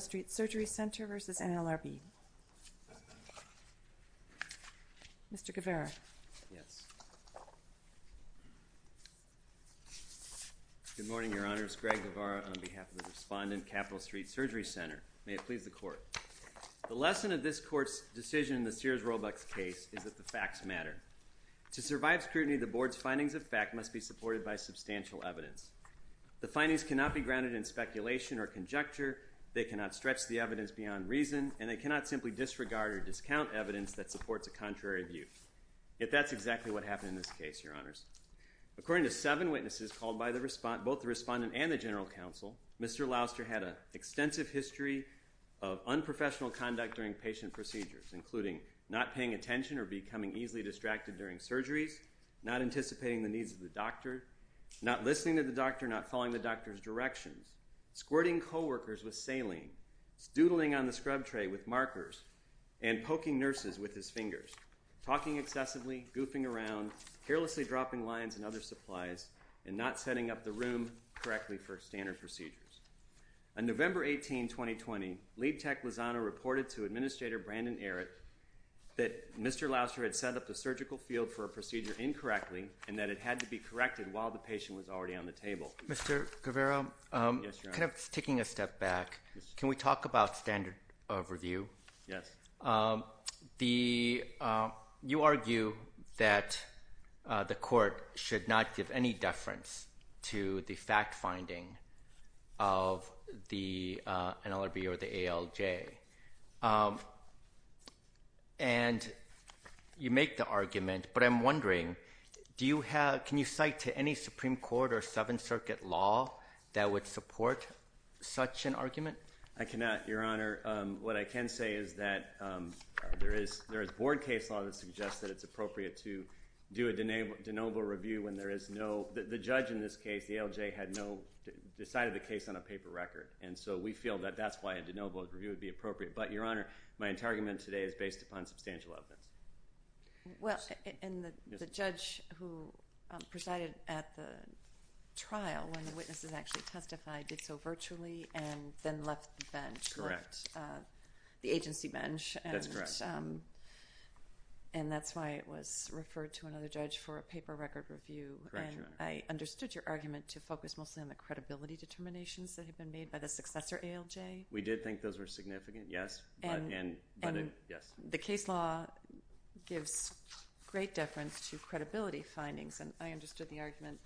Street Surgery Center v. NLRB. Mr. Guevara. Yes. Good morning, Your Honors. Greg Guevara on behalf of the Respondent, Capital Street Surgery Center. May it please the Court. The lesson of this Court's decision in the Sears-Roebuck case is that the facts matter. To survive scrutiny, the Board's findings of fact must be supported by substantial evidence. The findings cannot be grounded in speculation or conjecture, they cannot stretch the evidence beyond reason, and they cannot simply disregard or discount evidence that supports a contrary view. Yet that's exactly what happened in this case, Your Honors. According to seven witnesses called by both the Respondent and the General Counsel, Mr. Louster had an extensive history of unprofessional conduct during patient procedures, including not paying attention or becoming easily distracted during surgeries, not anticipating the needs of the doctor, not listening to the doctor, not following the doctor's directions, squirting co-workers with saline, doodling on the scrub tray with markers, and poking nurses with his fingers, talking excessively, goofing around, carelessly dropping lines and other supplies, and not setting up the room correctly for standard procedures. On November 18, 2020, Lead Tech Lozano reported to Administrator Brandon Errett that Mr. Louster had set up the surgical field for a procedure incorrectly and that it had to be corrected while the patient was already on the table. Mr. Guevara? Yes, Your Honor. Kind of taking a step back, can we talk about standard of review? Yes. You argue that the court should not give any deference to the fact-finding of an LRB or the ALJ. And you make the argument, but I'm wondering, can you cite to any Supreme Court or Seventh Circuit law that would support such an argument? I cannot, Your Honor. What I can say is that there is board case law that suggests that it's appropriate to do a de novo review when there is no – the judge in this case, the ALJ, had no – decided the case on a paper record. And so we feel that that's why a de novo review would be appropriate. But, Your Honor, my entire argument today is based upon substantial evidence. Well, and the judge who presided at the trial when the witnesses actually testified did so virtually and then left the bench. Correct. Left the agency bench. That's correct. And that's why it was referred to another judge for a paper record review. Correct, Your Honor. I understood your argument to focus mostly on the credibility determinations that had been made by the successor ALJ. We did think those were significant, yes. And the case law gives great deference to credibility findings. And I understood the argument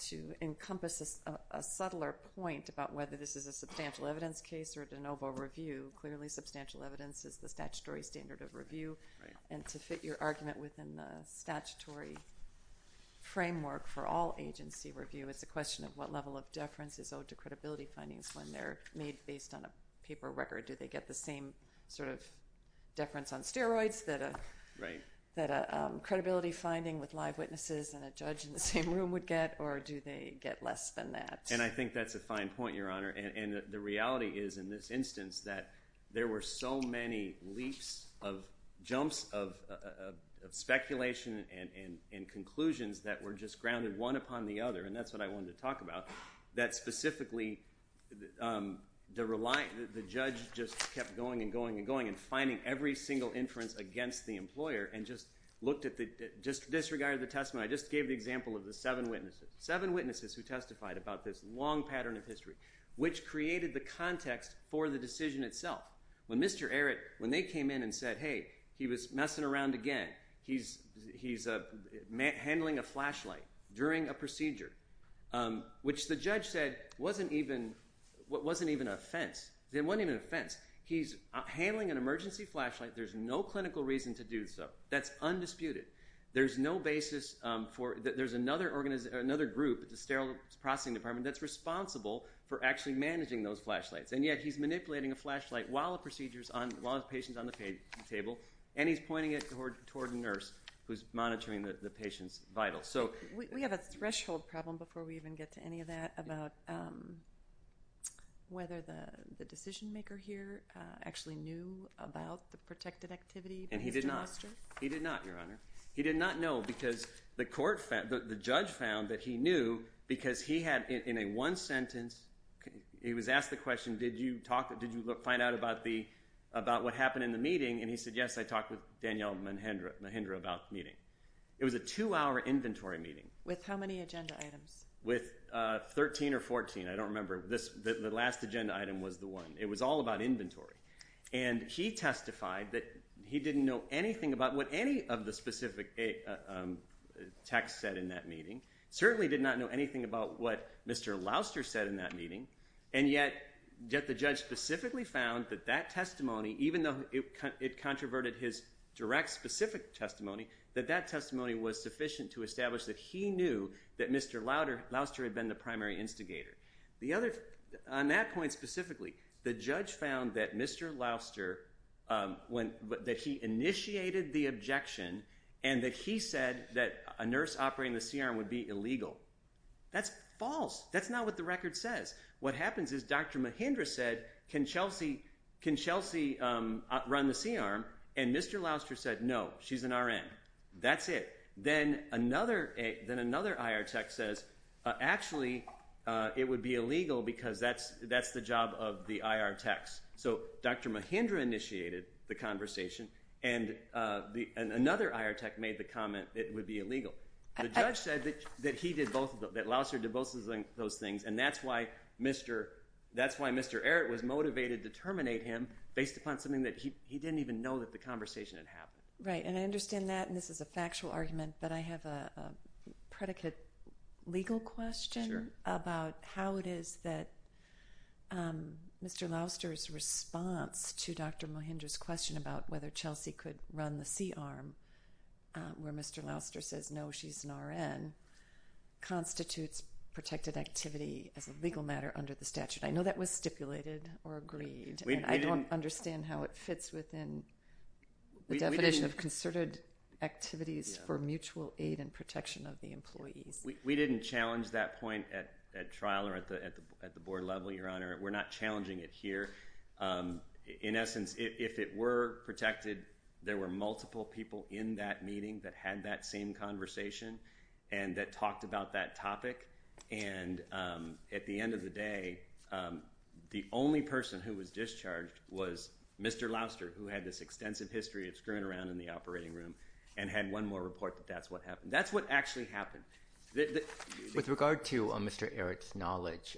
to encompass a subtler point about whether this is a substantial evidence case or a de novo review. Clearly, substantial evidence is the statutory standard of review. Right. And to fit your argument within the statutory framework for all agency review, it's a question of what level of deference is owed to credibility findings when they're made based on a paper record. Do they get the same sort of deference on steroids that a credibility finding with live witnesses and a judge in the same room would get, or do they get less than that? And I think that's a fine point, Your Honor. And the reality is in this instance that there were so many leaps of – jumps of speculation and conclusions that were just grounded one upon the other, and that's what I wanted to talk about, that specifically the judge just kept going and going and going and finding every single inference against the employer and just looked at the – just disregarded the testament. I just gave the example of the seven witnesses. Seven witnesses who testified about this long pattern of history, which created the context for the decision itself. When Mr. Arrett – when they came in and said, hey, he was messing around again. He's handling a flashlight during a procedure, which the judge said wasn't even – wasn't even an offense. It wasn't even an offense. He's handling an emergency flashlight. There's no clinical reason to do so. That's undisputed. There's no basis for – there's another group at the Sterile Processing Department that's responsible for actually managing those flashlights, and yet he's manipulating a flashlight while a procedure's on – while the patient's on the table, and he's pointing it toward a nurse who's monitoring the patient's vitals. So – We have a threshold problem before we even get to any of that about whether the decision maker here actually knew about the protected activity that he's demonstrated. And he did not. He did not, Your Honor. He did not know because the court – the judge found that he knew because he had, in a one sentence – he was asked the question, did you talk – did you find out about the – about what happened in the meeting? And he said, yes, I talked with Danielle Mahindra about the meeting. It was a two-hour inventory meeting. With how many agenda items? With 13 or 14. I don't remember. The last agenda item was the one. It was all about inventory. And he testified that he didn't know anything about what any of the specific text said in that meeting, certainly did not know anything about what Mr. Louster said in that meeting, and yet the judge specifically found that that testimony, even though it controverted his direct specific testimony, that that testimony was sufficient to establish that he knew that Mr. Louster had been the primary instigator. On that point specifically, the judge found that Mr. Louster – that he initiated the objection and that he said that a nurse operating the CRM would be illegal. That's false. That's not what the record says. What happens is Dr. Mahindra said, can Chelsea run the CRM? And Mr. Louster said, no, she's an RN. That's it. Then another IR tech says, actually, it would be illegal because that's the job of the IR techs. So Dr. Mahindra initiated the conversation, and another IR tech made the comment it would be illegal. The judge said that he did both of them, that Louster did both of those things, and that's why Mr. Ehret was motivated to terminate him based upon something that he didn't even know that the conversation had happened. Right, and I understand that, and this is a factual argument, but I have a predicate legal question about how it is that Mr. Louster's response to Dr. Mahindra's question about whether Chelsea could run the CRM where Mr. Louster says, no, she's an RN, constitutes protected activity as a legal matter under the statute. I know that was stipulated or agreed. I don't understand how it fits within the definition of concerted activities for mutual aid and protection of the employees. We didn't challenge that point at trial or at the board level, Your Honor. We're not challenging it here. In essence, if it were protected, there were multiple people in that meeting that had that same conversation and that talked about that topic. At the end of the day, the only person who was discharged was Mr. Louster, who had this extensive history of screwing around in the operating room and had one more report that that's what happened. That's what actually happened. With regard to Mr. Ehret's knowledge,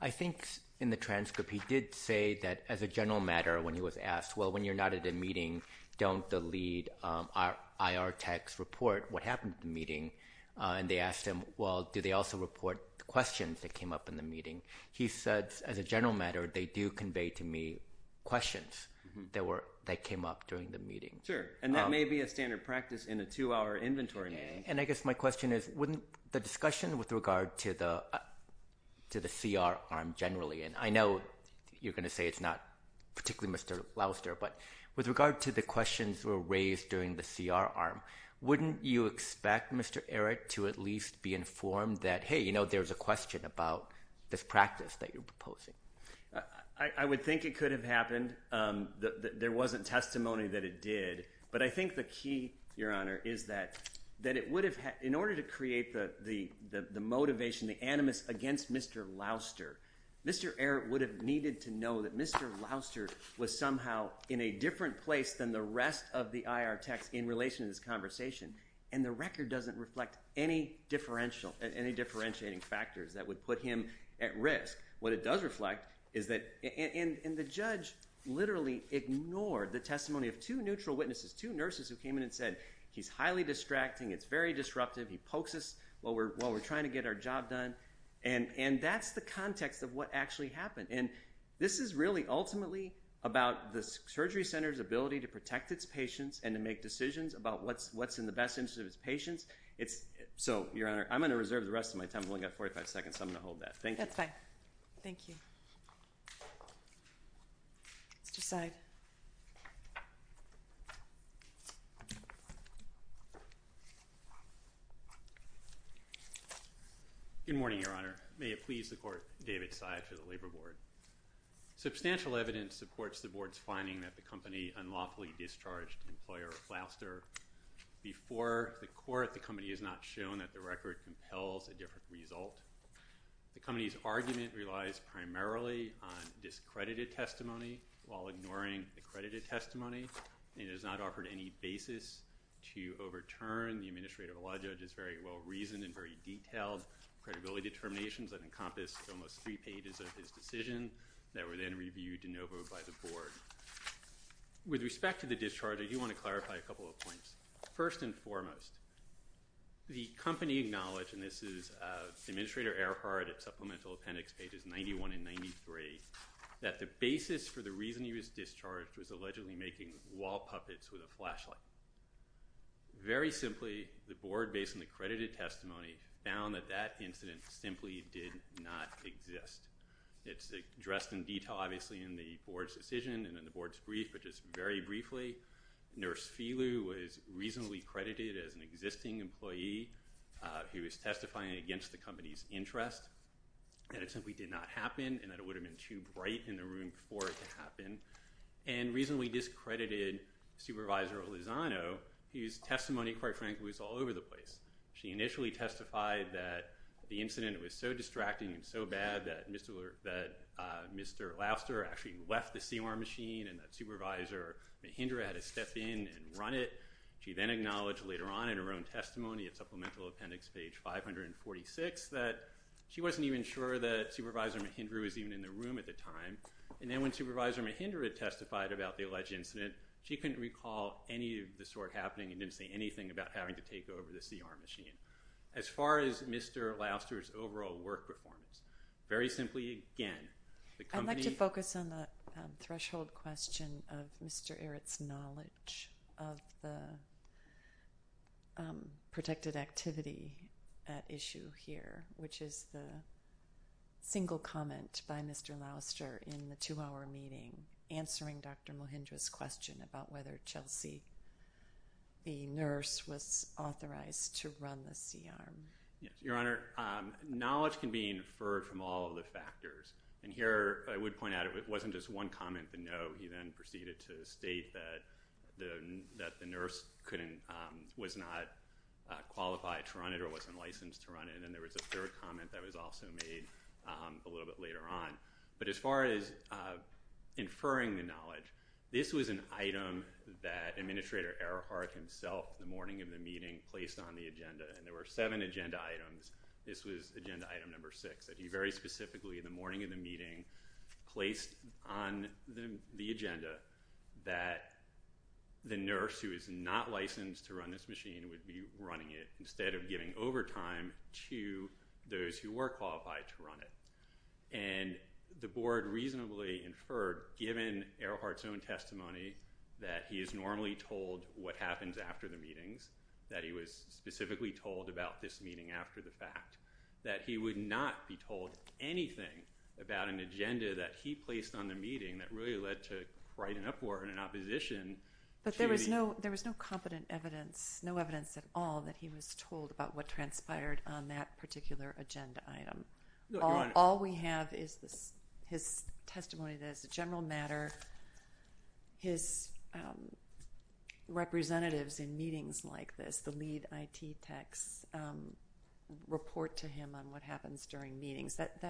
I think in the transcript he did say that as a general matter when he was asked, well, when you're not at a meeting, don't delete IR tech's report, what happened at the meeting? And they asked him, well, do they also report the questions that came up in the meeting? He said, as a general matter, they do convey to me questions that came up during the meeting. Sure, and that may be a standard practice in a two-hour inventory meeting. And I guess my question is wouldn't the discussion with regard to the CR arm generally, and I know you're going to say it's not particularly Mr. Louster, but with regard to the questions that were raised during the CR arm, wouldn't you expect Mr. Ehret to at least be informed that, hey, you know, there's a question about this practice that you're proposing? I would think it could have happened. There wasn't testimony that it did. But I think the key, Your Honor, is that in order to create the motivation, the animus against Mr. Louster, Mr. Ehret would have needed to know that Mr. Louster was somehow in a different place than the rest of the IR techs in relation to this conversation. And the record doesn't reflect any differentiating factors that would put him at risk. What it does reflect is that – and the judge literally ignored the testimony of two neutral witnesses, two nurses who came in and said, he's highly distracting, it's very disruptive, he pokes us while we're trying to get our job done. And that's the context of what actually happened. And this is really ultimately about the surgery center's ability to protect its patients and to make decisions about what's in the best interest of its patients. So, Your Honor, I'm going to reserve the rest of my time. I've only got 45 seconds, so I'm going to hold that. Thank you. That's fine. Thank you. Mr. Seid. Good morning, Your Honor. May it please the Court, David Seid for the Labor Board. Substantial evidence supports the Board's finding that the company unlawfully discharged employer Louster. Before the court, the company has not shown that the record compels a different result. The company's argument relies primarily on discredited testimony while ignoring accredited testimony. It has not offered any basis to overturn the administrative law judge's very well-reasoned and very detailed credibility determinations that encompass almost three pages of his decision that were then reviewed de novo by the Board. With respect to the discharge, I do want to clarify a couple of points. First and foremost, the company acknowledged, and this is Administrator Earhart at Supplemental Appendix pages 91 and 93, that the basis for the reason he was discharged was allegedly making wall puppets with a flashlight. Very simply, the Board, based on the credited testimony, found that that incident simply did not exist. It's addressed in detail, obviously, in the Board's decision and in the Board's brief, but just very briefly, Nurse Phelue was reasonably credited as an existing employee who was testifying against the company's interest, that it simply did not happen and that it would have been too bright in the room for it to happen, and reasonably discredited Supervisor Lozano, whose testimony, quite frankly, was all over the place. She initially testified that the incident was so distracting and so bad that Mr. Louster actually left the CR machine and that Supervisor Mahindra had to step in and run it. She then acknowledged later on in her own testimony at Supplemental Appendix page 546 that she wasn't even sure that Supervisor Mahindra was even in the room at the time. And then when Supervisor Mahindra testified about the alleged incident, she couldn't recall any of the sort happening and didn't say anything about having to take over the CR machine. As far as Mr. Louster's overall work performance, very simply, again, the company— The question of Mr. Ehret's knowledge of the protected activity at issue here, which is the single comment by Mr. Louster in the two-hour meeting, answering Dr. Mahindra's question about whether Chelsea, the nurse, was authorized to run the CR. Your Honor, knowledge can be inferred from all of the factors. And here I would point out it wasn't just one comment, the no. He then proceeded to state that the nurse was not qualified to run it or wasn't licensed to run it. And then there was a third comment that was also made a little bit later on. But as far as inferring the knowledge, this was an item that Administrator Earhart himself, the morning of the meeting, placed on the agenda, and there were seven agenda items. This was agenda item number six that he very specifically, in the morning of the meeting, placed on the agenda that the nurse who is not licensed to run this machine would be running it instead of giving overtime to those who were qualified to run it. And the Board reasonably inferred, given Earhart's own testimony, that he is normally told what happens after the meetings, that he was specifically told about this meeting after the fact, that he would not be told anything about an agenda that he placed on the meeting that really led to quite an uproar and an opposition. But there was no competent evidence, no evidence at all, that he was told about what transpired on that particular agenda item. All we have is his testimony that, as a general matter, his representatives in meetings like this, the lead IT techs, report to him on what happens during meetings. That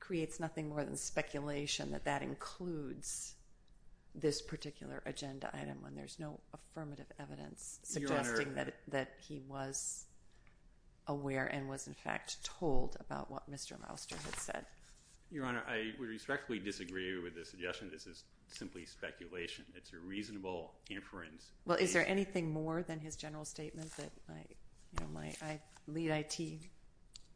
creates nothing more than speculation that that includes this particular agenda item when there's no affirmative evidence suggesting that he was aware and was, in fact, told about what Mr. Mouster had said. Your Honor, I respectfully disagree with the suggestion. This is simply speculation. It's a reasonable inference. Well, is there anything more than his general statement that my lead IT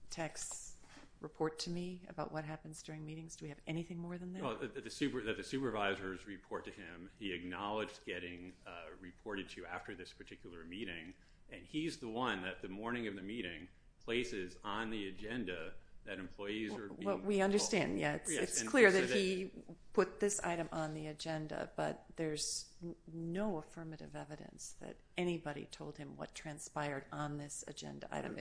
techs report to me about what happens during meetings? Do we have anything more than that? Well, that the supervisors report to him. He acknowledged getting reported to after this particular meeting, and he's the one that, the morning of the meeting, places on the agenda that employees are being called. Well, we understand, yes. It's clear that he put this item on the agenda, but there's no affirmative evidence that anybody told him what transpired on this agenda item.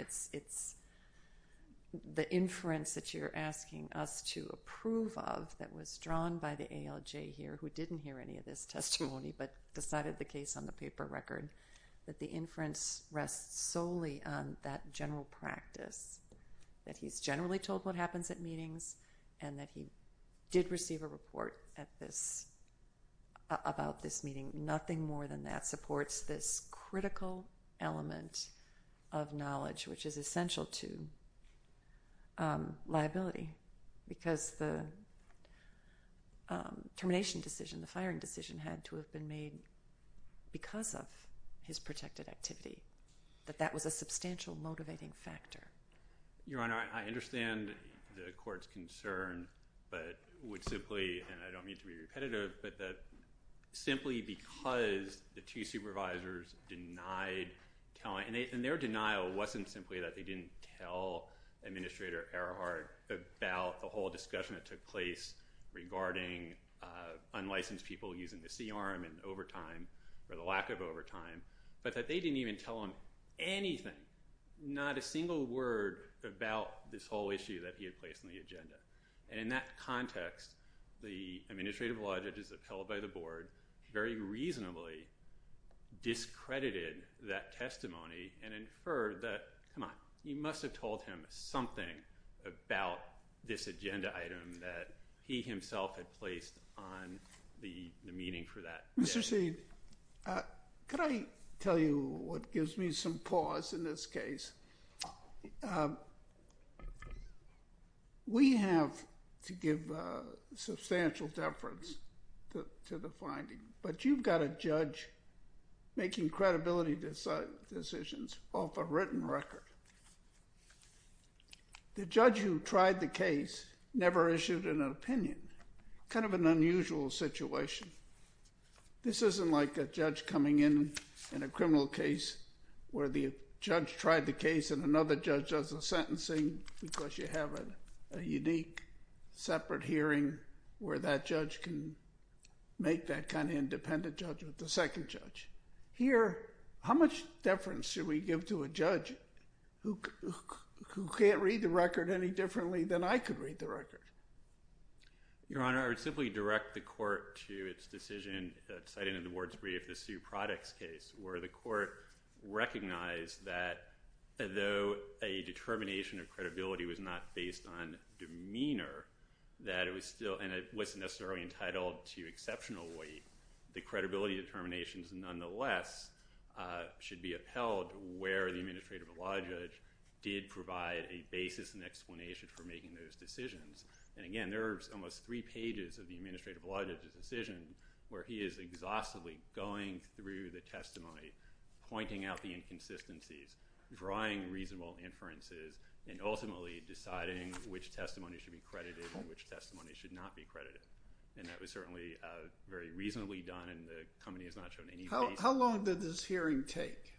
The inference that you're asking us to approve of that was drawn by the ALJ here, who didn't hear any of this testimony but decided the case on the paper record, that the inference rests solely on that general practice, that he's generally told what happens at meetings and that he did receive a report about this meeting. Nothing more than that supports this critical element of knowledge, which is essential to liability because the termination decision, the firing decision had to have been made because of his protected activity, that that was a substantial motivating factor. Your Honor, I understand the court's concern, but would simply, and I don't mean to be repetitive, but that simply because the two supervisors denied telling, and their denial wasn't simply that they didn't tell Administrator Erhard about the whole discussion that took place regarding unlicensed people using the CRM in overtime or the lack of overtime, but that they didn't even tell him anything, not a single word about this whole issue that he had placed on the agenda. And in that context, the Administrative Law Judges upheld by the Board very reasonably discredited that testimony and inferred that, come on, he must have told him something about this agenda item that he himself had placed on the meeting for that. Mr. Seed, could I tell you what gives me some pause in this case? We have to give substantial deference to the finding, but you've got a judge making credibility decisions off a written record. The judge who tried the case never issued an opinion, kind of an unusual situation. This isn't like a judge coming in in a criminal case where the judge tried the case and another judge does the sentencing because you have a unique separate hearing where that judge can make that kind of independent judgment, the second judge. Here, how much deference should we give to a judge who can't read the record any differently than I could read the record? Your Honor, I would simply direct the court to its decision, citing in the Board's brief, the Sue Products case, where the court recognized that though a determination of credibility was not based on demeanor, and it wasn't necessarily entitled to exceptional weight, the credibility determinations nonetheless should be upheld where the Administrative Law Judge did provide a basis and explanation for making those decisions. Again, there are almost three pages of the Administrative Law Judge's decision where he is exhaustively going through the testimony, pointing out the inconsistencies, drawing reasonable inferences, and ultimately deciding which testimony should be credited and which testimony should not be credited. That was certainly very reasonably done and the company has not shown any basis. How long did this hearing take?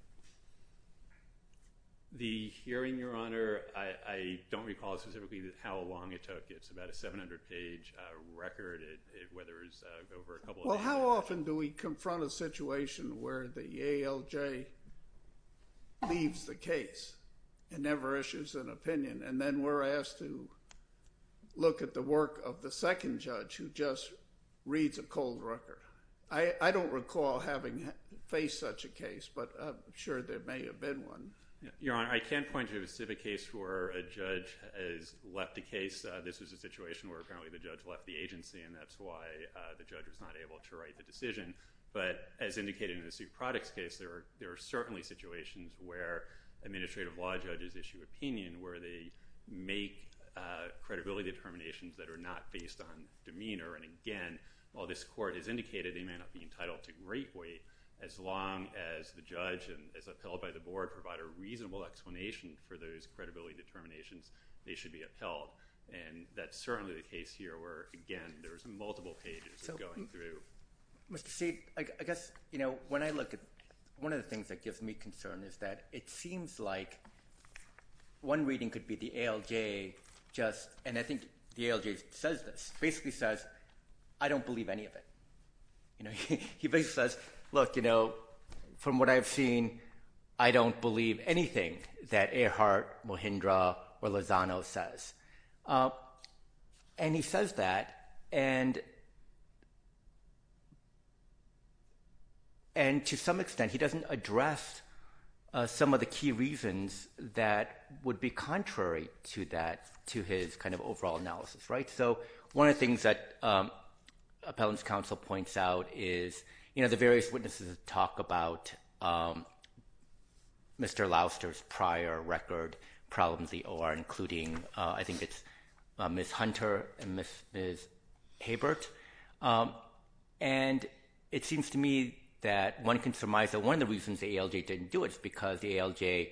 The hearing, Your Honor, I don't recall specifically how long it took. It's about a 700-page record. Well, how often do we confront a situation where the ALJ leaves the case and never issues an opinion, and then we're asked to look at the work of the second judge who just reads a cold record? I don't recall having faced such a case, but I'm sure there may have been one. Your Honor, I can't point to a specific case where a judge has left a case. This was a situation where apparently the judge left the agency, and that's why the judge was not able to write the decision. But as indicated in the Suit Products case, there are certainly situations where Administrative Law Judges issue opinion, where they make credibility determinations that are not based on demeanor. And again, while this Court has indicated they may not be entitled to great weight, as long as the judge and, as upheld by the Board, provide a reasonable explanation for those credibility determinations, they should be upheld. And that's certainly the case here where, again, there's multiple pages going through. Mr. Seed, I guess, you know, when I look at one of the things that gives me concern is that it seems like one reading could be the ALJ just, and I think the ALJ says this, basically says, I don't believe any of it. You know, he basically says, look, you know, from what I've seen, I don't believe anything that Earhart, Mohindra, or Lozano says. And he says that, and to some extent he doesn't address some of the key reasons that would be contrary to that, to his kind of overall analysis, right? So one of the things that Appellant's counsel points out is, you know, the various witnesses talk about Mr. Louster's prior record problems, the OR, including I think it's Ms. Hunter and Ms. Habert. And it seems to me that one can surmise that one of the reasons the ALJ didn't do it is because the ALJ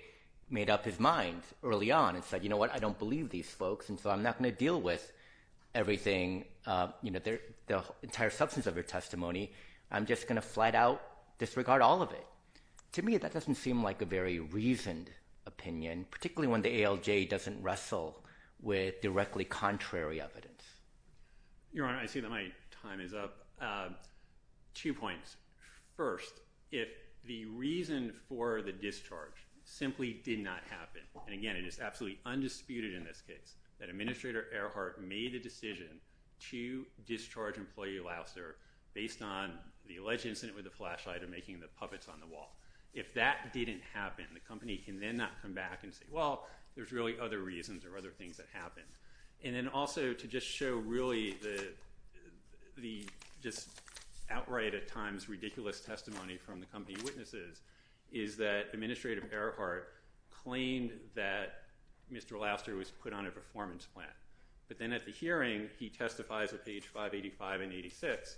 made up his mind early on and said, you know what, I don't believe these folks, and so I'm not going to deal with everything, you know, the entire substance of your testimony. I'm just going to flat out disregard all of it. To me, that doesn't seem like a very reasoned opinion, particularly when the ALJ doesn't wrestle with directly contrary evidence. Your Honor, I see that my time is up. Two points. First, if the reason for the discharge simply did not happen, and again, it is absolutely undisputed in this case that Administrator Earhart made the decision to discharge employee Louster based on the alleged incident with the flashlight or making the puppets on the wall. If that didn't happen, the company can then not come back and say, well, there's really other reasons or other things that happened. And then also to just show really the just outright at times ridiculous testimony from the company witnesses is that Administrator Earhart claimed that Mr. Louster was put on a performance plan. But then at the hearing, he testifies at page 585 and 86,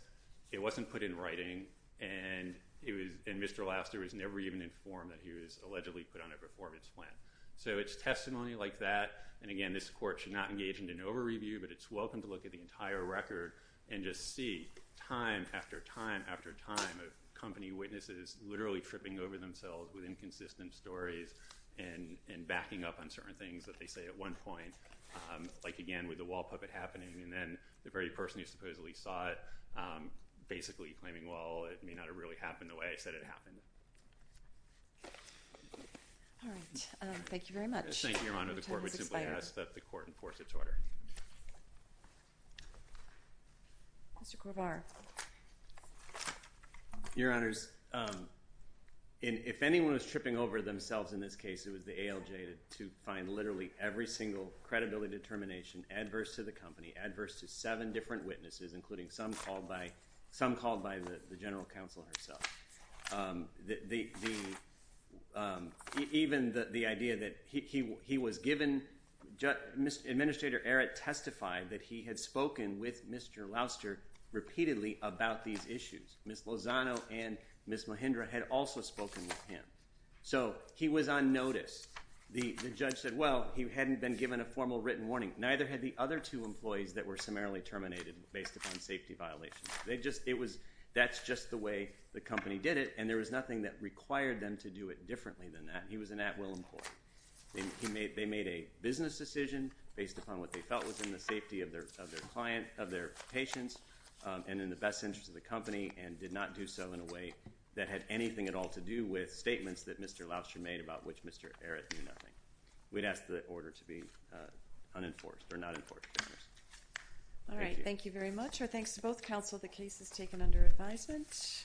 it wasn't put in writing, and Mr. Louster was never even informed that he was allegedly put on a performance plan. So it's testimony like that, and again, this Court should not engage in an over-review, but it's welcome to look at the entire record and just see time after time after time of company witnesses literally tripping over themselves with inconsistent stories and backing up on certain things that they say at one point. Like, again, with the wall puppet happening and then the very person who supposedly saw it basically claiming, well, it may not have really happened the way I said it happened. All right. Thank you very much. Thank you, Your Honor. The Court would simply ask that the Court enforce its order. Mr. Corbar. Your Honors, if anyone was tripping over themselves in this case, it was the ALJ to find literally every single credibility determination adverse to the company, adverse to seven different witnesses, including some called by the general counsel herself. Even the idea that he was given – Administrator Earhart testified that he had spoken with Mr. Louster repeatedly about these issues. Ms. Lozano and Ms. Mahindra had also spoken with him. So he was on notice. The judge said, well, he hadn't been given a formal written warning. Neither had the other two employees that were summarily terminated based upon safety violations. That's just the way the company did it, and there was nothing that required them to do it differently than that. He was an at-will employee. They made a business decision based upon what they felt was in the safety of their client, of their patients, and in the best interest of the company, and did not do so in a way that had anything at all to do with statements that Mr. Louster made about which Mr. Earhart knew nothing. We'd ask the order to be unenforced or not enforced, Your Honors. All right. Thank you very much. Our thanks to both counsel. The case is taken under advisement.